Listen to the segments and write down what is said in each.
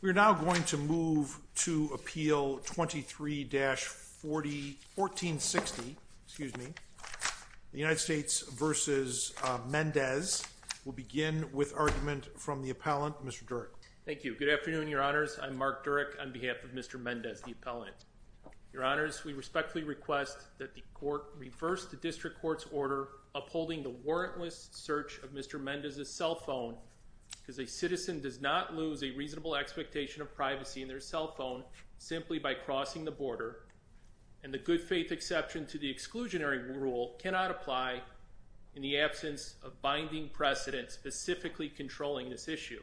We are now going to move to appeal 23-1460, excuse me, the United States v. Mendez. We'll begin with argument from the appellant, Mr. Durek. Thank you. Good afternoon, your honors. I'm Mark Durek on behalf of Mr. Mendez, the appellant. Your honors, we respectfully request that the court reverse the district court's order upholding the warrantless search of Mr. Mendez's cell phone because a citizen does not lose a of privacy in their cell phone simply by crossing the border, and the good faith exception to the exclusionary rule cannot apply in the absence of binding precedent specifically controlling this issue.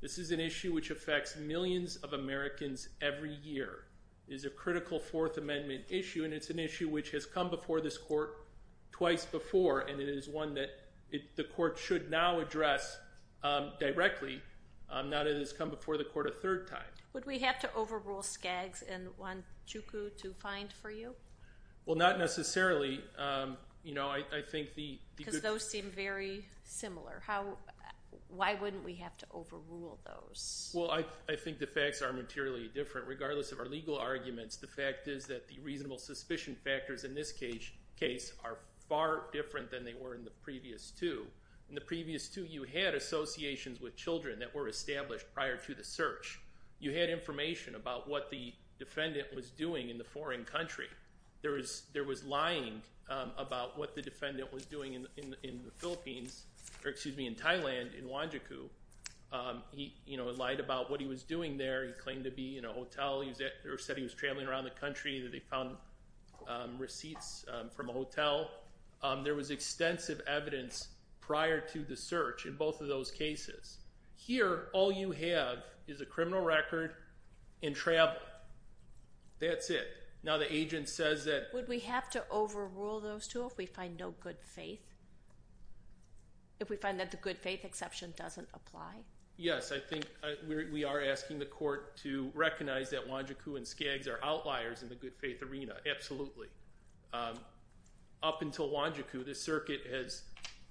This is an issue which affects millions of Americans every year. It is a critical Fourth Amendment issue, and it's an issue which has come before this court twice before, and it is one that the court should now address directly, not that it Would we have to overrule Skaggs and Wanchukwu to find for you? Well, not necessarily. Because those seem very similar. Why wouldn't we have to overrule those? Well, I think the facts are materially different. Regardless of our legal arguments, the fact is that the reasonable suspicion factors in this case are far different than they were in the previous two. In the previous two, you had associations with children that were established prior to the search. You had information about what the defendant was doing in the foreign country. There was lying about what the defendant was doing in the Philippines, or excuse me, in Thailand, in Wanchukwu. He lied about what he was doing there. He claimed to be in a hotel. He said he was traveling around the country. They found receipts from a hotel. There was extensive evidence prior to the search in both of those cases. Here, all you have is a criminal record and travel. That's it. Now the agent says that Would we have to overrule those two if we find no good faith? If we find that the good faith exception doesn't apply? Yes, I think we are asking the court to recognize that Wanchukwu and Skaggs are outliers in the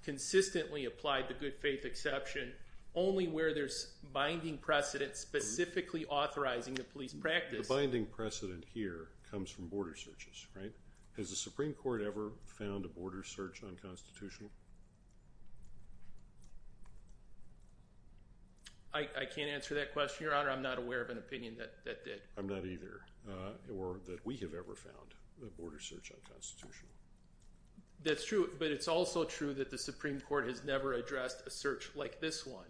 consistently applied the good faith exception only where there's binding precedent specifically authorizing the police practice. The binding precedent here comes from border searches, right? Has the Supreme Court ever found a border search unconstitutional? I can't answer that question, Your Honor. I'm not aware of an opinion that did. I'm not either, or that we have ever found a border search unconstitutional. That's true, but it's also true that the Supreme Court has never addressed a search like this one.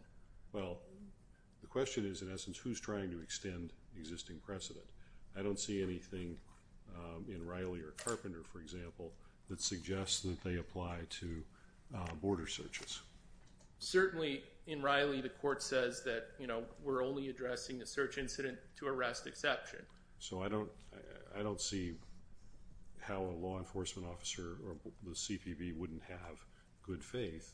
Well, the question is, in essence, who's trying to extend the existing precedent? I don't see anything in Riley or Carpenter, for example, that suggests that they apply to border searches. Certainly in Riley, the court says that we're only addressing the search incident to arrest exception. So I don't see how a law enforcement officer or the CPB wouldn't have good faith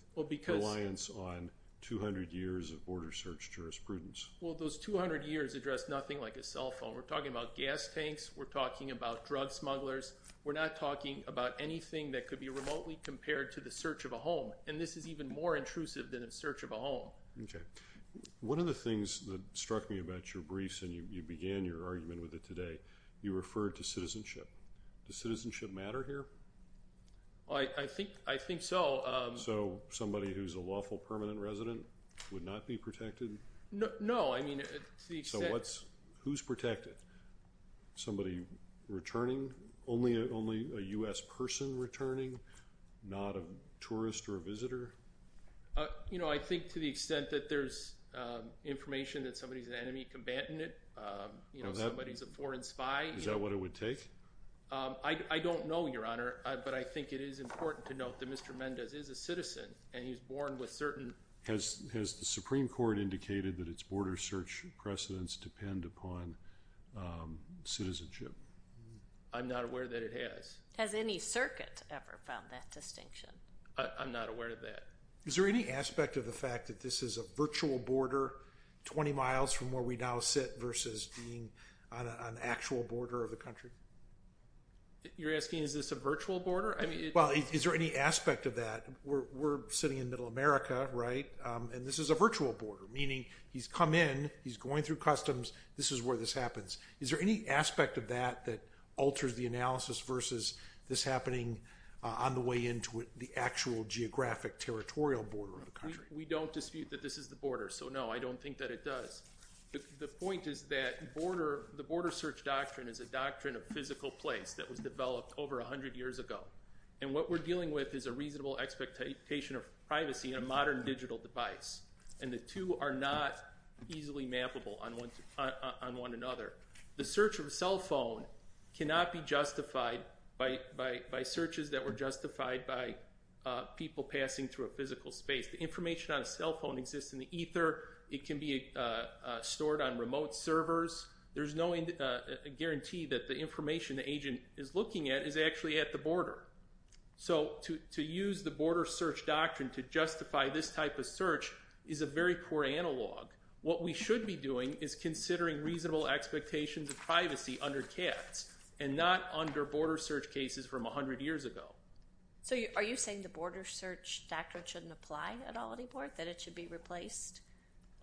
reliance on 200 years of border search jurisprudence. Well, those 200 years address nothing like a cell phone. We're talking about gas tanks. We're talking about drug smugglers. We're not talking about anything that could be remotely compared to the search of a home, and this is even more intrusive than a search of a home. Okay. One of the things that struck me about your briefs, and you began your argument with it today, you referred to citizenship. Does citizenship matter here? I think so. So somebody who's a lawful permanent resident would not be protected? No. I mean, to the extent— So who's protected? Somebody returning? Only a U.S. person returning? Not a tourist or a visitor? You know, I think to the extent that there's information that somebody's an enemy combatant, you know, somebody's a foreign spy— Is that what it would take? I don't know, Your Honor, but I think it is important to note that Mr. Mendez is a citizen and he's born with certain— Has the Supreme Court indicated that its border search precedents depend upon citizenship? I'm not aware that it has. Has any circuit ever found that distinction? I'm not aware of that. Is there any aspect of the fact that this is a virtual border 20 miles from where we now sit versus being on an actual border of the country? You're asking, is this a virtual border? I mean— Well, is there any aspect of that? We're sitting in Middle America, right? And this is a virtual border, meaning he's come in, he's going through customs, this is where this happens. Is there any actual geographic territorial border of the country? We don't dispute that this is the border, so no, I don't think that it does. The point is that the border search doctrine is a doctrine of physical place that was developed over 100 years ago. And what we're dealing with is a reasonable expectation of privacy in a modern digital device. And the two are not easily mappable on one another. The search of a cell people passing through a physical space, the information on a cell phone exists in the ether, it can be stored on remote servers. There's no guarantee that the information the agent is looking at is actually at the border. So to use the border search doctrine to justify this type of search is a very poor analog. What we should be doing is considering reasonable expectations of privacy under caps and not under border search cases from 100 years ago. So are you saying the border search doctrine shouldn't apply at all anymore, that it should be replaced?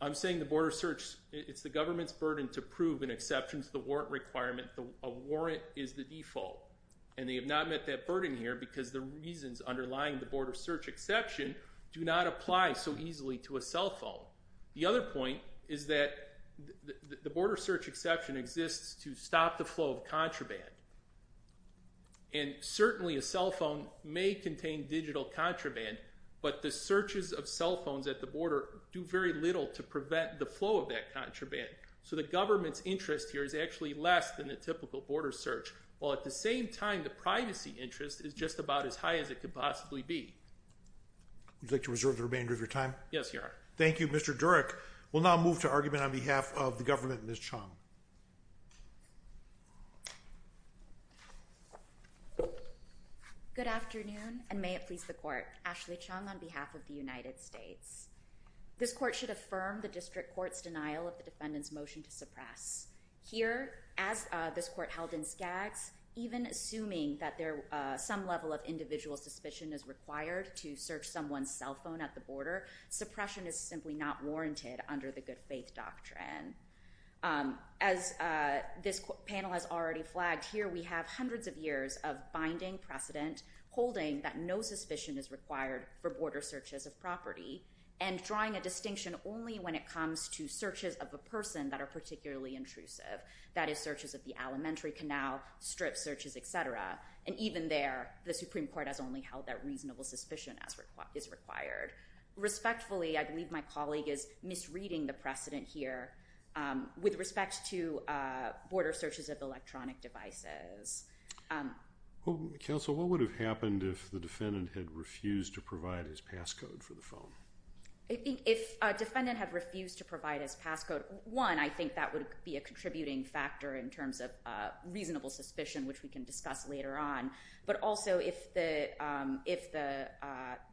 I'm saying the border search, it's the government's burden to prove an exception to the warrant requirement. A warrant is the default. And they have not met that burden here because the reasons underlying the border search exception do not apply so easily to a cell phone. The other point is that the border search exception exists to stop the flow of contraband. And certainly a cell phone may contain digital contraband, but the searches of cell phones at the border do very little to prevent the flow of that contraband. So the government's interest here is actually less than the typical border search, while at the same time the privacy interest is just about as high as it could possibly be. Would you like to reserve the remainder of your time? Yes, Your Honor. Thank you, Mr. Durek. We'll now move to argument on behalf of the government, Ms. Chong. Good afternoon, and may it please the court. Ashley Chong on behalf of the United States. This court should affirm the district court's denial of the defendant's motion to suppress. Here, as this court held in Skaggs, even assuming that some level of individual suspicion is required to search someone's cell phone at the border, suppression is simply not warranted under the good faith doctrine. As this panel has already flagged, here we are, we have hundreds of years of binding precedent holding that no suspicion is required for border searches of property, and drawing a distinction only when it comes to searches of a person that are particularly intrusive, that is searches of the elementary canal, strip searches, et cetera. And even there, the Supreme Court has only held that reasonable suspicion is required. Respectfully, I believe my colleague is misreading the precedent here with respect to border searches of electronic devices. Counsel, what would have happened if the defendant had refused to provide his passcode for the phone? I think if a defendant had refused to provide his passcode, one, I think that would be a contributing factor in terms of reasonable suspicion, which we can discuss later on. But also, if that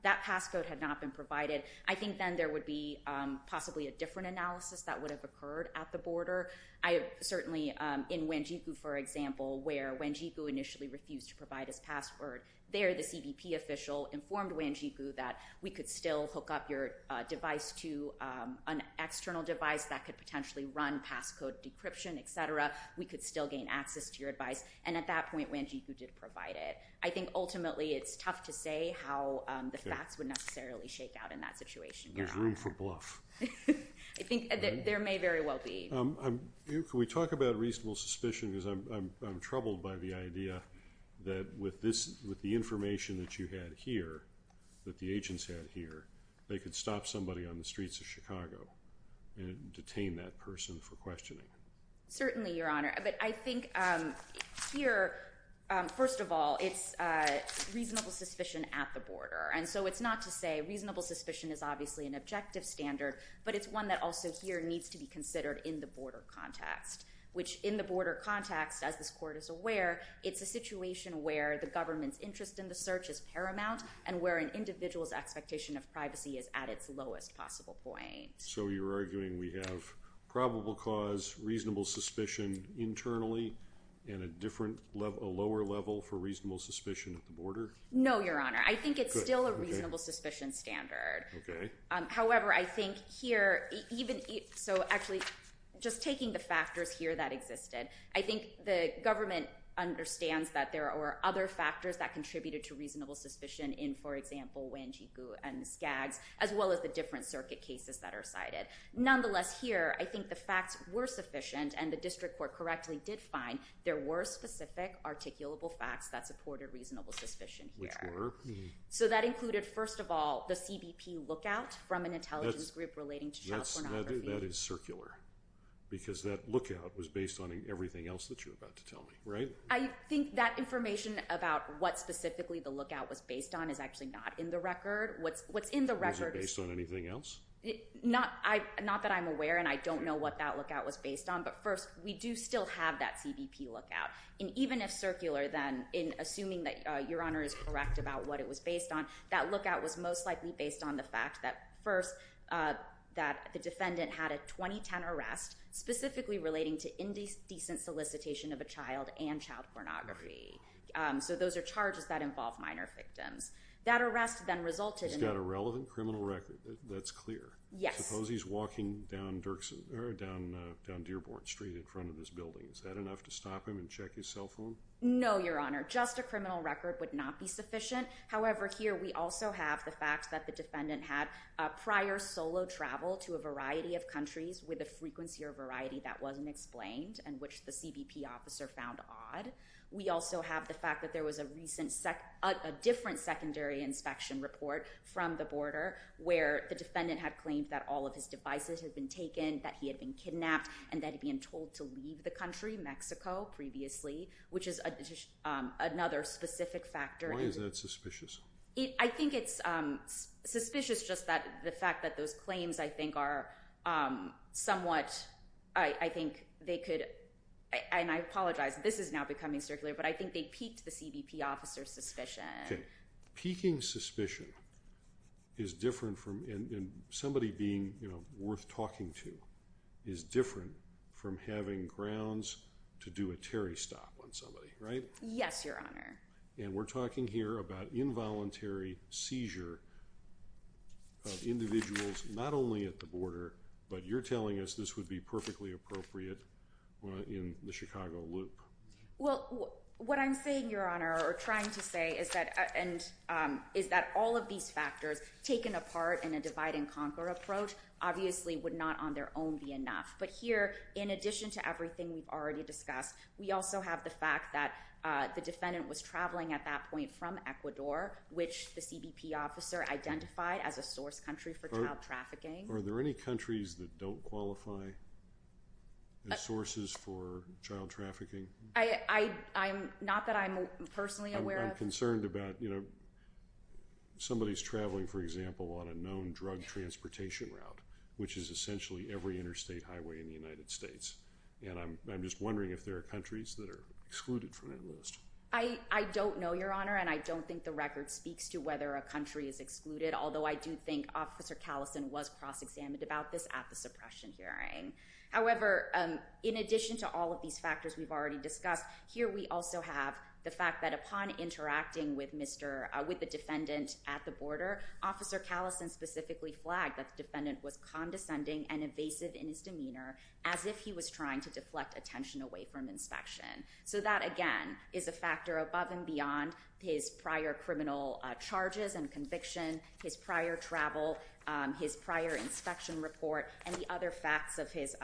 passcode had not been provided, I think then there would be possibly a different analysis that would have occurred at the border. I certainly, in Wanjiku, for example, where Wanjiku initially refused to provide his password, there the CBP official informed Wanjiku that we could still hook up your device to an external device that could potentially run passcode decryption, et cetera. We could still gain access to your advice. And at that point, Wanjiku did provide it. I think ultimately it's tough to say how the facts would necessarily shake out in that I think there may very well be. Can we talk about reasonable suspicion? Because I'm troubled by the idea that with this, with the information that you had here, that the agents had here, they could stop somebody on the streets of Chicago and detain that person for questioning. Certainly, Your Honor. But I think here, first of all, it's reasonable suspicion at the border. And it's one that also here needs to be considered in the border context, which in the border context, as this court is aware, it's a situation where the government's interest in the search is paramount and where an individual's expectation of privacy is at its lowest possible point. So you're arguing we have probable cause, reasonable suspicion internally, and a different level, a lower level for reasonable suspicion at the border? No, Your Honor. I think it's still a reasonable suspicion standard. Okay. However, I think here, so actually, just taking the factors here that existed, I think the government understands that there are other factors that contributed to reasonable suspicion in, for example, Wanjiku and Skaggs, as well as the different circuit cases that are cited. Nonetheless, here, I think the facts were sufficient and the district court correctly did find there were specific articulable facts that supported reasonable suspicion here. Which were? So that included, first of all, the CBP lookout from an intelligence group relating to child pornography. That is circular, because that lookout was based on everything else that you're about to tell me, right? I think that information about what specifically the lookout was based on is actually not in the record. What's in the record is- Was it based on anything else? Not that I'm aware, and I don't know what that lookout was based on, but first, we do still have that CBP lookout. And even if circular, then, in assuming that Your Honor is correct about what it was based on, that lookout was most likely based on the fact that, first, that the defendant had a 2010 arrest specifically relating to indecent solicitation of a child and child pornography. So those are charges that involve minor victims. That arrest then resulted in- He's got a relevant criminal record. That's clear. Yes. Suppose he's walking down Deerborn Street in front of this building. Is that enough to stop him and check his cell phone? No, Your Honor. Just a criminal record would not be sufficient. However, here, we also have the fact that the defendant had prior solo travel to a variety of countries with a frequency or variety that wasn't explained and which the CBP officer found odd. We also have the fact that there was a different secondary inspection report from the border where the defendant had claimed that all of his devices had been taken, that he had been kidnapped, and that he'd been told to leave the country, Mexico, previously, which is another specific factor. Why is that suspicious? I think it's suspicious just that the fact that those claims, I think, are somewhat- I think they could- and I apologize. This is now becoming circular, but I think they peaked the CBP officer's suspicion. Okay. Peaking suspicion is different from- and somebody being worth talking to is different from having grounds to do a Terry stop on somebody, right? Yes, Your Honor. And we're talking here about involuntary seizure of individuals not only at the border, but you're telling us this would be perfectly appropriate in the Chicago loop. Well, what I'm saying, Your Honor, or trying to say is that all of these factors taken apart in a divide-and-conquer approach obviously would not on their own be enough. But here, in addition to everything we've already discussed, we also have the fact that the defendant was traveling at that point from Ecuador, which the CBP officer identified as a source country for child trafficking. Are there any countries that don't qualify as sources for child trafficking? Not that I'm personally aware of. I'm concerned about somebody's traveling, for example, on a known drug transportation route, which is essentially every interstate highway in the United States. And I'm just wondering if there are countries that are excluded from that list. I don't know, Your Honor, and I don't think the record speaks to whether a country is excluded, although I do think Officer Callison was cross-examined about this at the suppression hearing. However, in addition to all of these factors we've already discussed, here we also have the fact that upon interacting with the defendant at the border, Officer Callison specifically flagged that the defendant was condescending and evasive in his demeanor, as if he was trying to deflect attention away from inspection. So that, again, is a factor above and beyond his prior criminal charges and conviction, his prior travel, his prior inspection report, and the other facts of his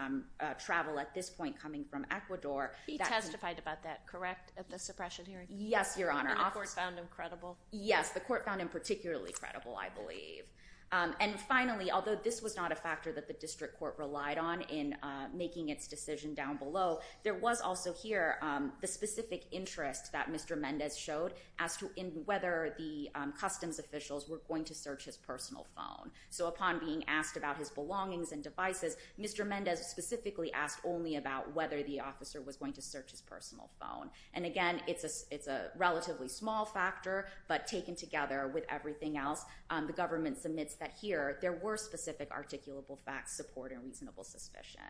travel at this point coming from Ecuador. He testified about that, correct, at the suppression hearing? Yes, Your Honor. And the court found him credible? Yes, the court found him particularly credible, I believe. And finally, although this was not a factor that the district court relied on in making its decision down below, there was also here the specific interest that Mr. Mendez showed as to whether the customs officials were going to search his personal phone. So upon being asked about his belongings and devices, Mr. Mendez specifically asked only about whether the officer was going to search his personal phone. And again, it's a relatively small factor, but taken together with everything else, the government submits that here there were specific articulable facts supporting reasonable suspicion.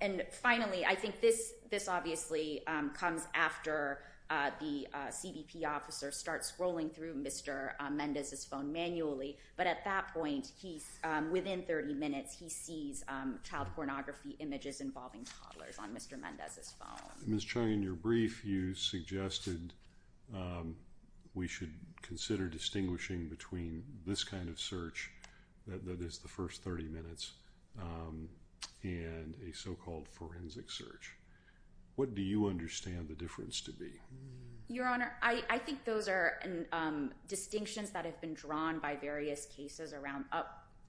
And finally, I think this obviously comes after the CBP officer starts scrolling through Mr. Mendez's phone manually. But at that point, within 30 minutes, he sees child pornography images involving toddlers on Mr. Mendez's phone. Ms. Chung, in your brief, you suggested we should consider distinguishing between this kind of search, that is the first 30 minutes, and a so-called forensic search. What do you understand the difference to be? Your Honor, I think those are distinctions that have been drawn by various cases around,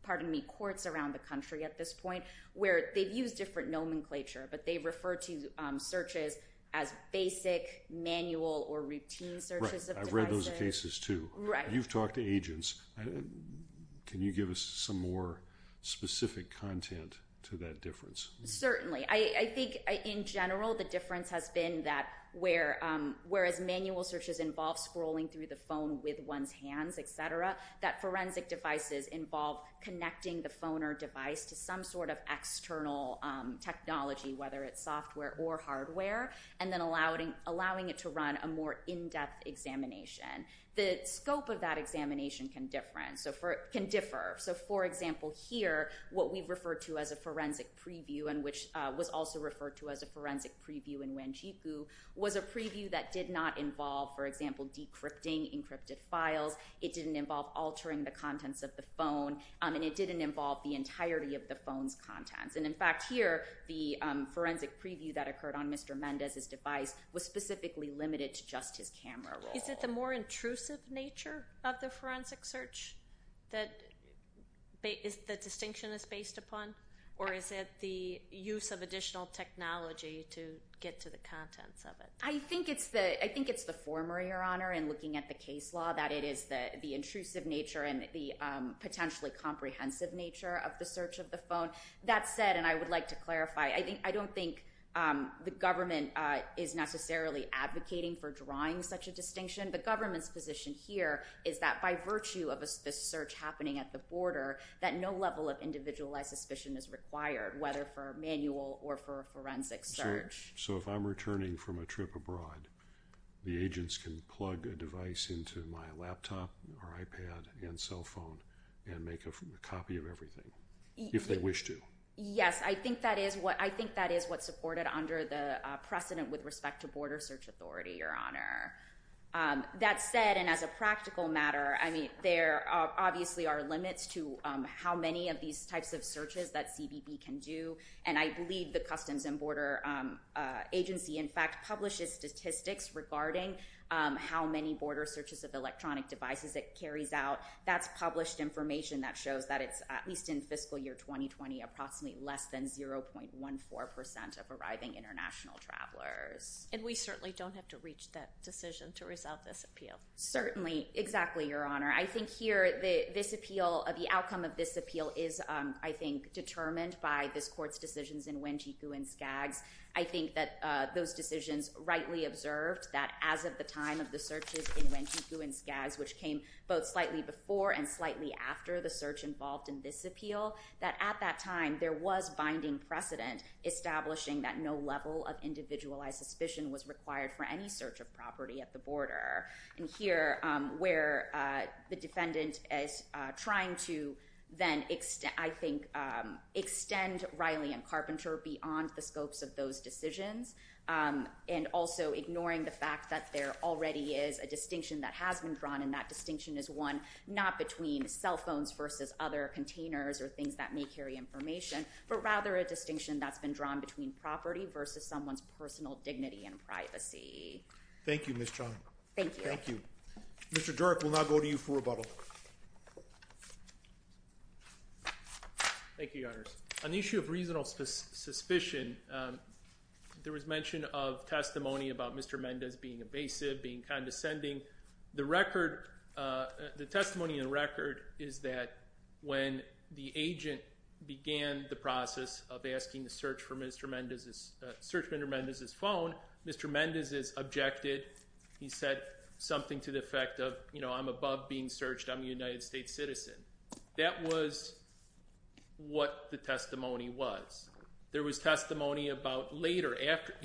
pardon me, courts around the country at this point, where they've used different nomenclature, but they refer to searches as basic, manual, or routine searches of devices. I've read those cases too. You've talked to agents. Can you give us some more specific content to that difference? Certainly. I think, in general, the difference has been that whereas manual searches involve scrolling through the phone with one's hands, et cetera, that forensic devices involve connecting the phone or device to some sort of external technology, whether it's software or hardware, and then allowing it to run a more in-depth examination. The scope of that examination can differ. For example, here, what we've referred to as a forensic preview, and which was also referred to as a forensic preview in Wanjiku, was a preview that did not involve, for example, decrypting encrypted files. It didn't involve altering the contents of the phone, and it didn't involve the entirety of the phone's contents. In fact, here, the forensic preview that occurred on Mr. Mendez's device was specifically limited to just his camera roll. Is it the more intrusive nature of the forensic search that the distinction is based upon, or is it the use of additional technology to get to the contents of it? I think it's the former, Your Honor, in looking at the case law, that it is the intrusive nature and the potentially comprehensive nature of the search of the phone. That said, and I would like to clarify, I don't think the government is necessarily advocating for drawing such a distinction. The government's position here is that by virtue of this search happening at the border, that no level of individualized suspicion is required, whether for a manual or for a forensic search. So if I'm returning from a trip abroad, the agents can plug a device into my laptop or iPad and cell phone and make a copy of everything, if they wish to? Yes, I think that is what's supported under the precedent with respect to border search authority, Your Honor. That said, and as a practical matter, I mean, there obviously are limits to how many of these types of searches that CBB can do. And I believe the Customs and Border Agency, in fact, publishes statistics regarding how many border searches of electronic devices it carries out. That's published information that shows that it's, at least in fiscal year 2020, approximately less than 0.14% of arriving international travelers. And we certainly don't have to reach that decision to resolve this appeal. Certainly. Exactly, Your Honor. I think here, this appeal, the outcome of this appeal is, I think, determined by this court's decisions in Wanchiku and Skaggs. I think that those decisions rightly observed that as of the time of the searches in Wanchiku and Skaggs, which came both slightly before and slightly after the search involved in this appeal, that at that time, there was binding precedent establishing that no level of individualized suspicion was required for any search of property at the border. And here, where the defendant is trying to then, I think, extend Riley and Carpenter beyond the scopes of those decisions, and also ignoring the fact that there already is a distinction that has been drawn, and that distinction is one not between cell phones versus other containers or things that may carry information, but rather a distinction that's been drawn between property versus someone's personal dignity and privacy. Thank you, Ms. Chong. Thank you. Thank you. Mr. Dirk, we'll now go to you for rebuttal. Thank you, Your Honors. On the issue of reasonable suspicion, there was mention of testimony about Mr. Mendez being evasive, being condescending. The record, the testimony in the record is that when the agent began the process of asking to search for Mr. Mendez's, search for Mr. Mendez's phone, Mr. Mendez is objected. He said something to the effect of, you know, I'm above being searched. I'm a United States citizen. That was what the testimony was. There was testimony about later,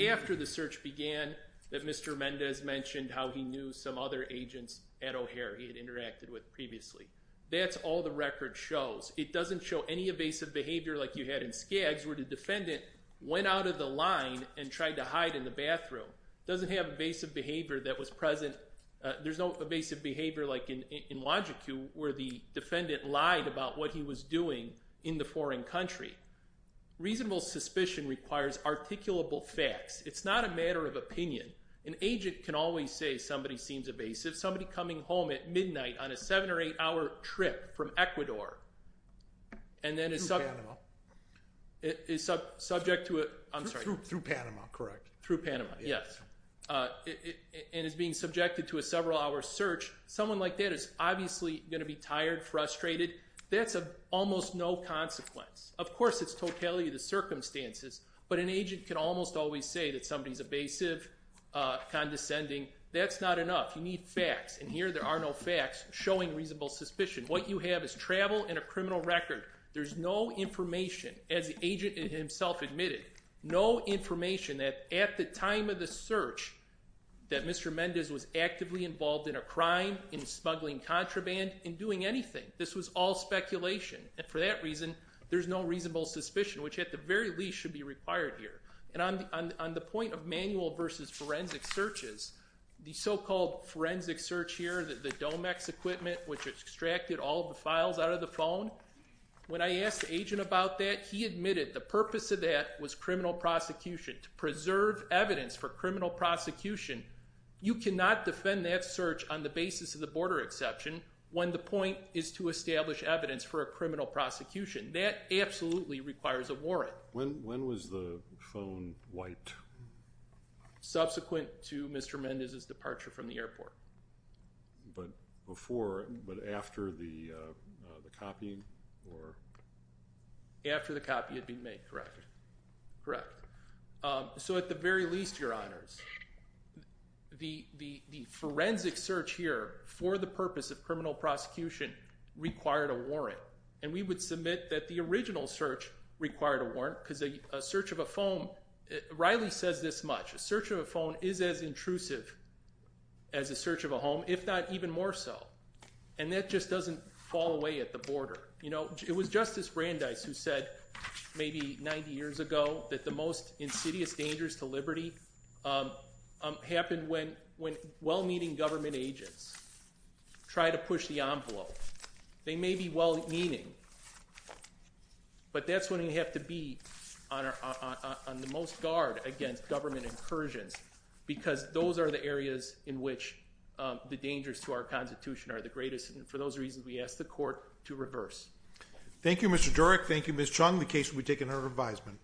after the search began, that Mr. Mendez mentioned how he knew some other agents at O'Hare he had interacted with previously. That's all the record shows. It doesn't show any evasive behavior like you had in Skaggs, where the defendant went out of the line and tried to hide in the bathroom. Doesn't have evasive behavior that was present, there's no evasive behavior like in Logic Q, where the defendant lied about what he was doing in the foreign country. Reasonable suspicion requires articulable facts. It's not a matter of opinion. An agent can always say somebody seems evasive. Somebody coming home at midnight on a 7 or 8 hour trip from Ecuador and then is subject to a, I'm sorry, through Panama, yes, and is being subjected to a several hour search. Someone like that is obviously going to be tired, frustrated, that's almost no consequence. Of course it's totality of the circumstances, but an agent can almost always say that somebody is evasive, condescending. That's not enough. You need facts. And here there are no facts showing reasonable suspicion. What you have is travel and a criminal record. There's no information, as the agent himself admitted, no information that at the time of the search that Mr. Mendez was actively involved in a crime, in smuggling contraband, in doing anything. This was all speculation. And for that reason, there's no reasonable suspicion, which at the very least should be required here. And on the point of manual versus forensic searches, the so-called forensic search here, the Domex equipment, which extracted all of the files out of the phone, when I asked the agent about that, he admitted the purpose of that was criminal prosecution, to preserve evidence for criminal prosecution. You cannot defend that search on the basis of the border exception when the point is to establish evidence for a criminal prosecution. That absolutely requires a warrant. When was the phone wiped? Subsequent to Mr. Mendez's departure from the airport. But before, but after the copying? After the copy had been made, correct. Correct. So at the very least, Your Honors, the forensic search here for the purpose of criminal prosecution required a warrant. And we would submit that the original search required a warrant, because a search of a phone, Riley says this much, a search of a phone is as intrusive as a search of a home, if not even more so. And that just doesn't fall away at the border. You know, it was Justice Brandeis who said, maybe 90 years ago, that the most insidious dangers to liberty happen when well-meaning government agents try to push the envelope. They may be well-meaning, but that's when you have to be on the most guard against government incursions, because those are the areas in which the dangers to our Constitution are the greatest. And for those reasons, we ask the Court to reverse. Thank you, Mr. Durek. Thank you, Ms. Chung. The case will be taken under revisement.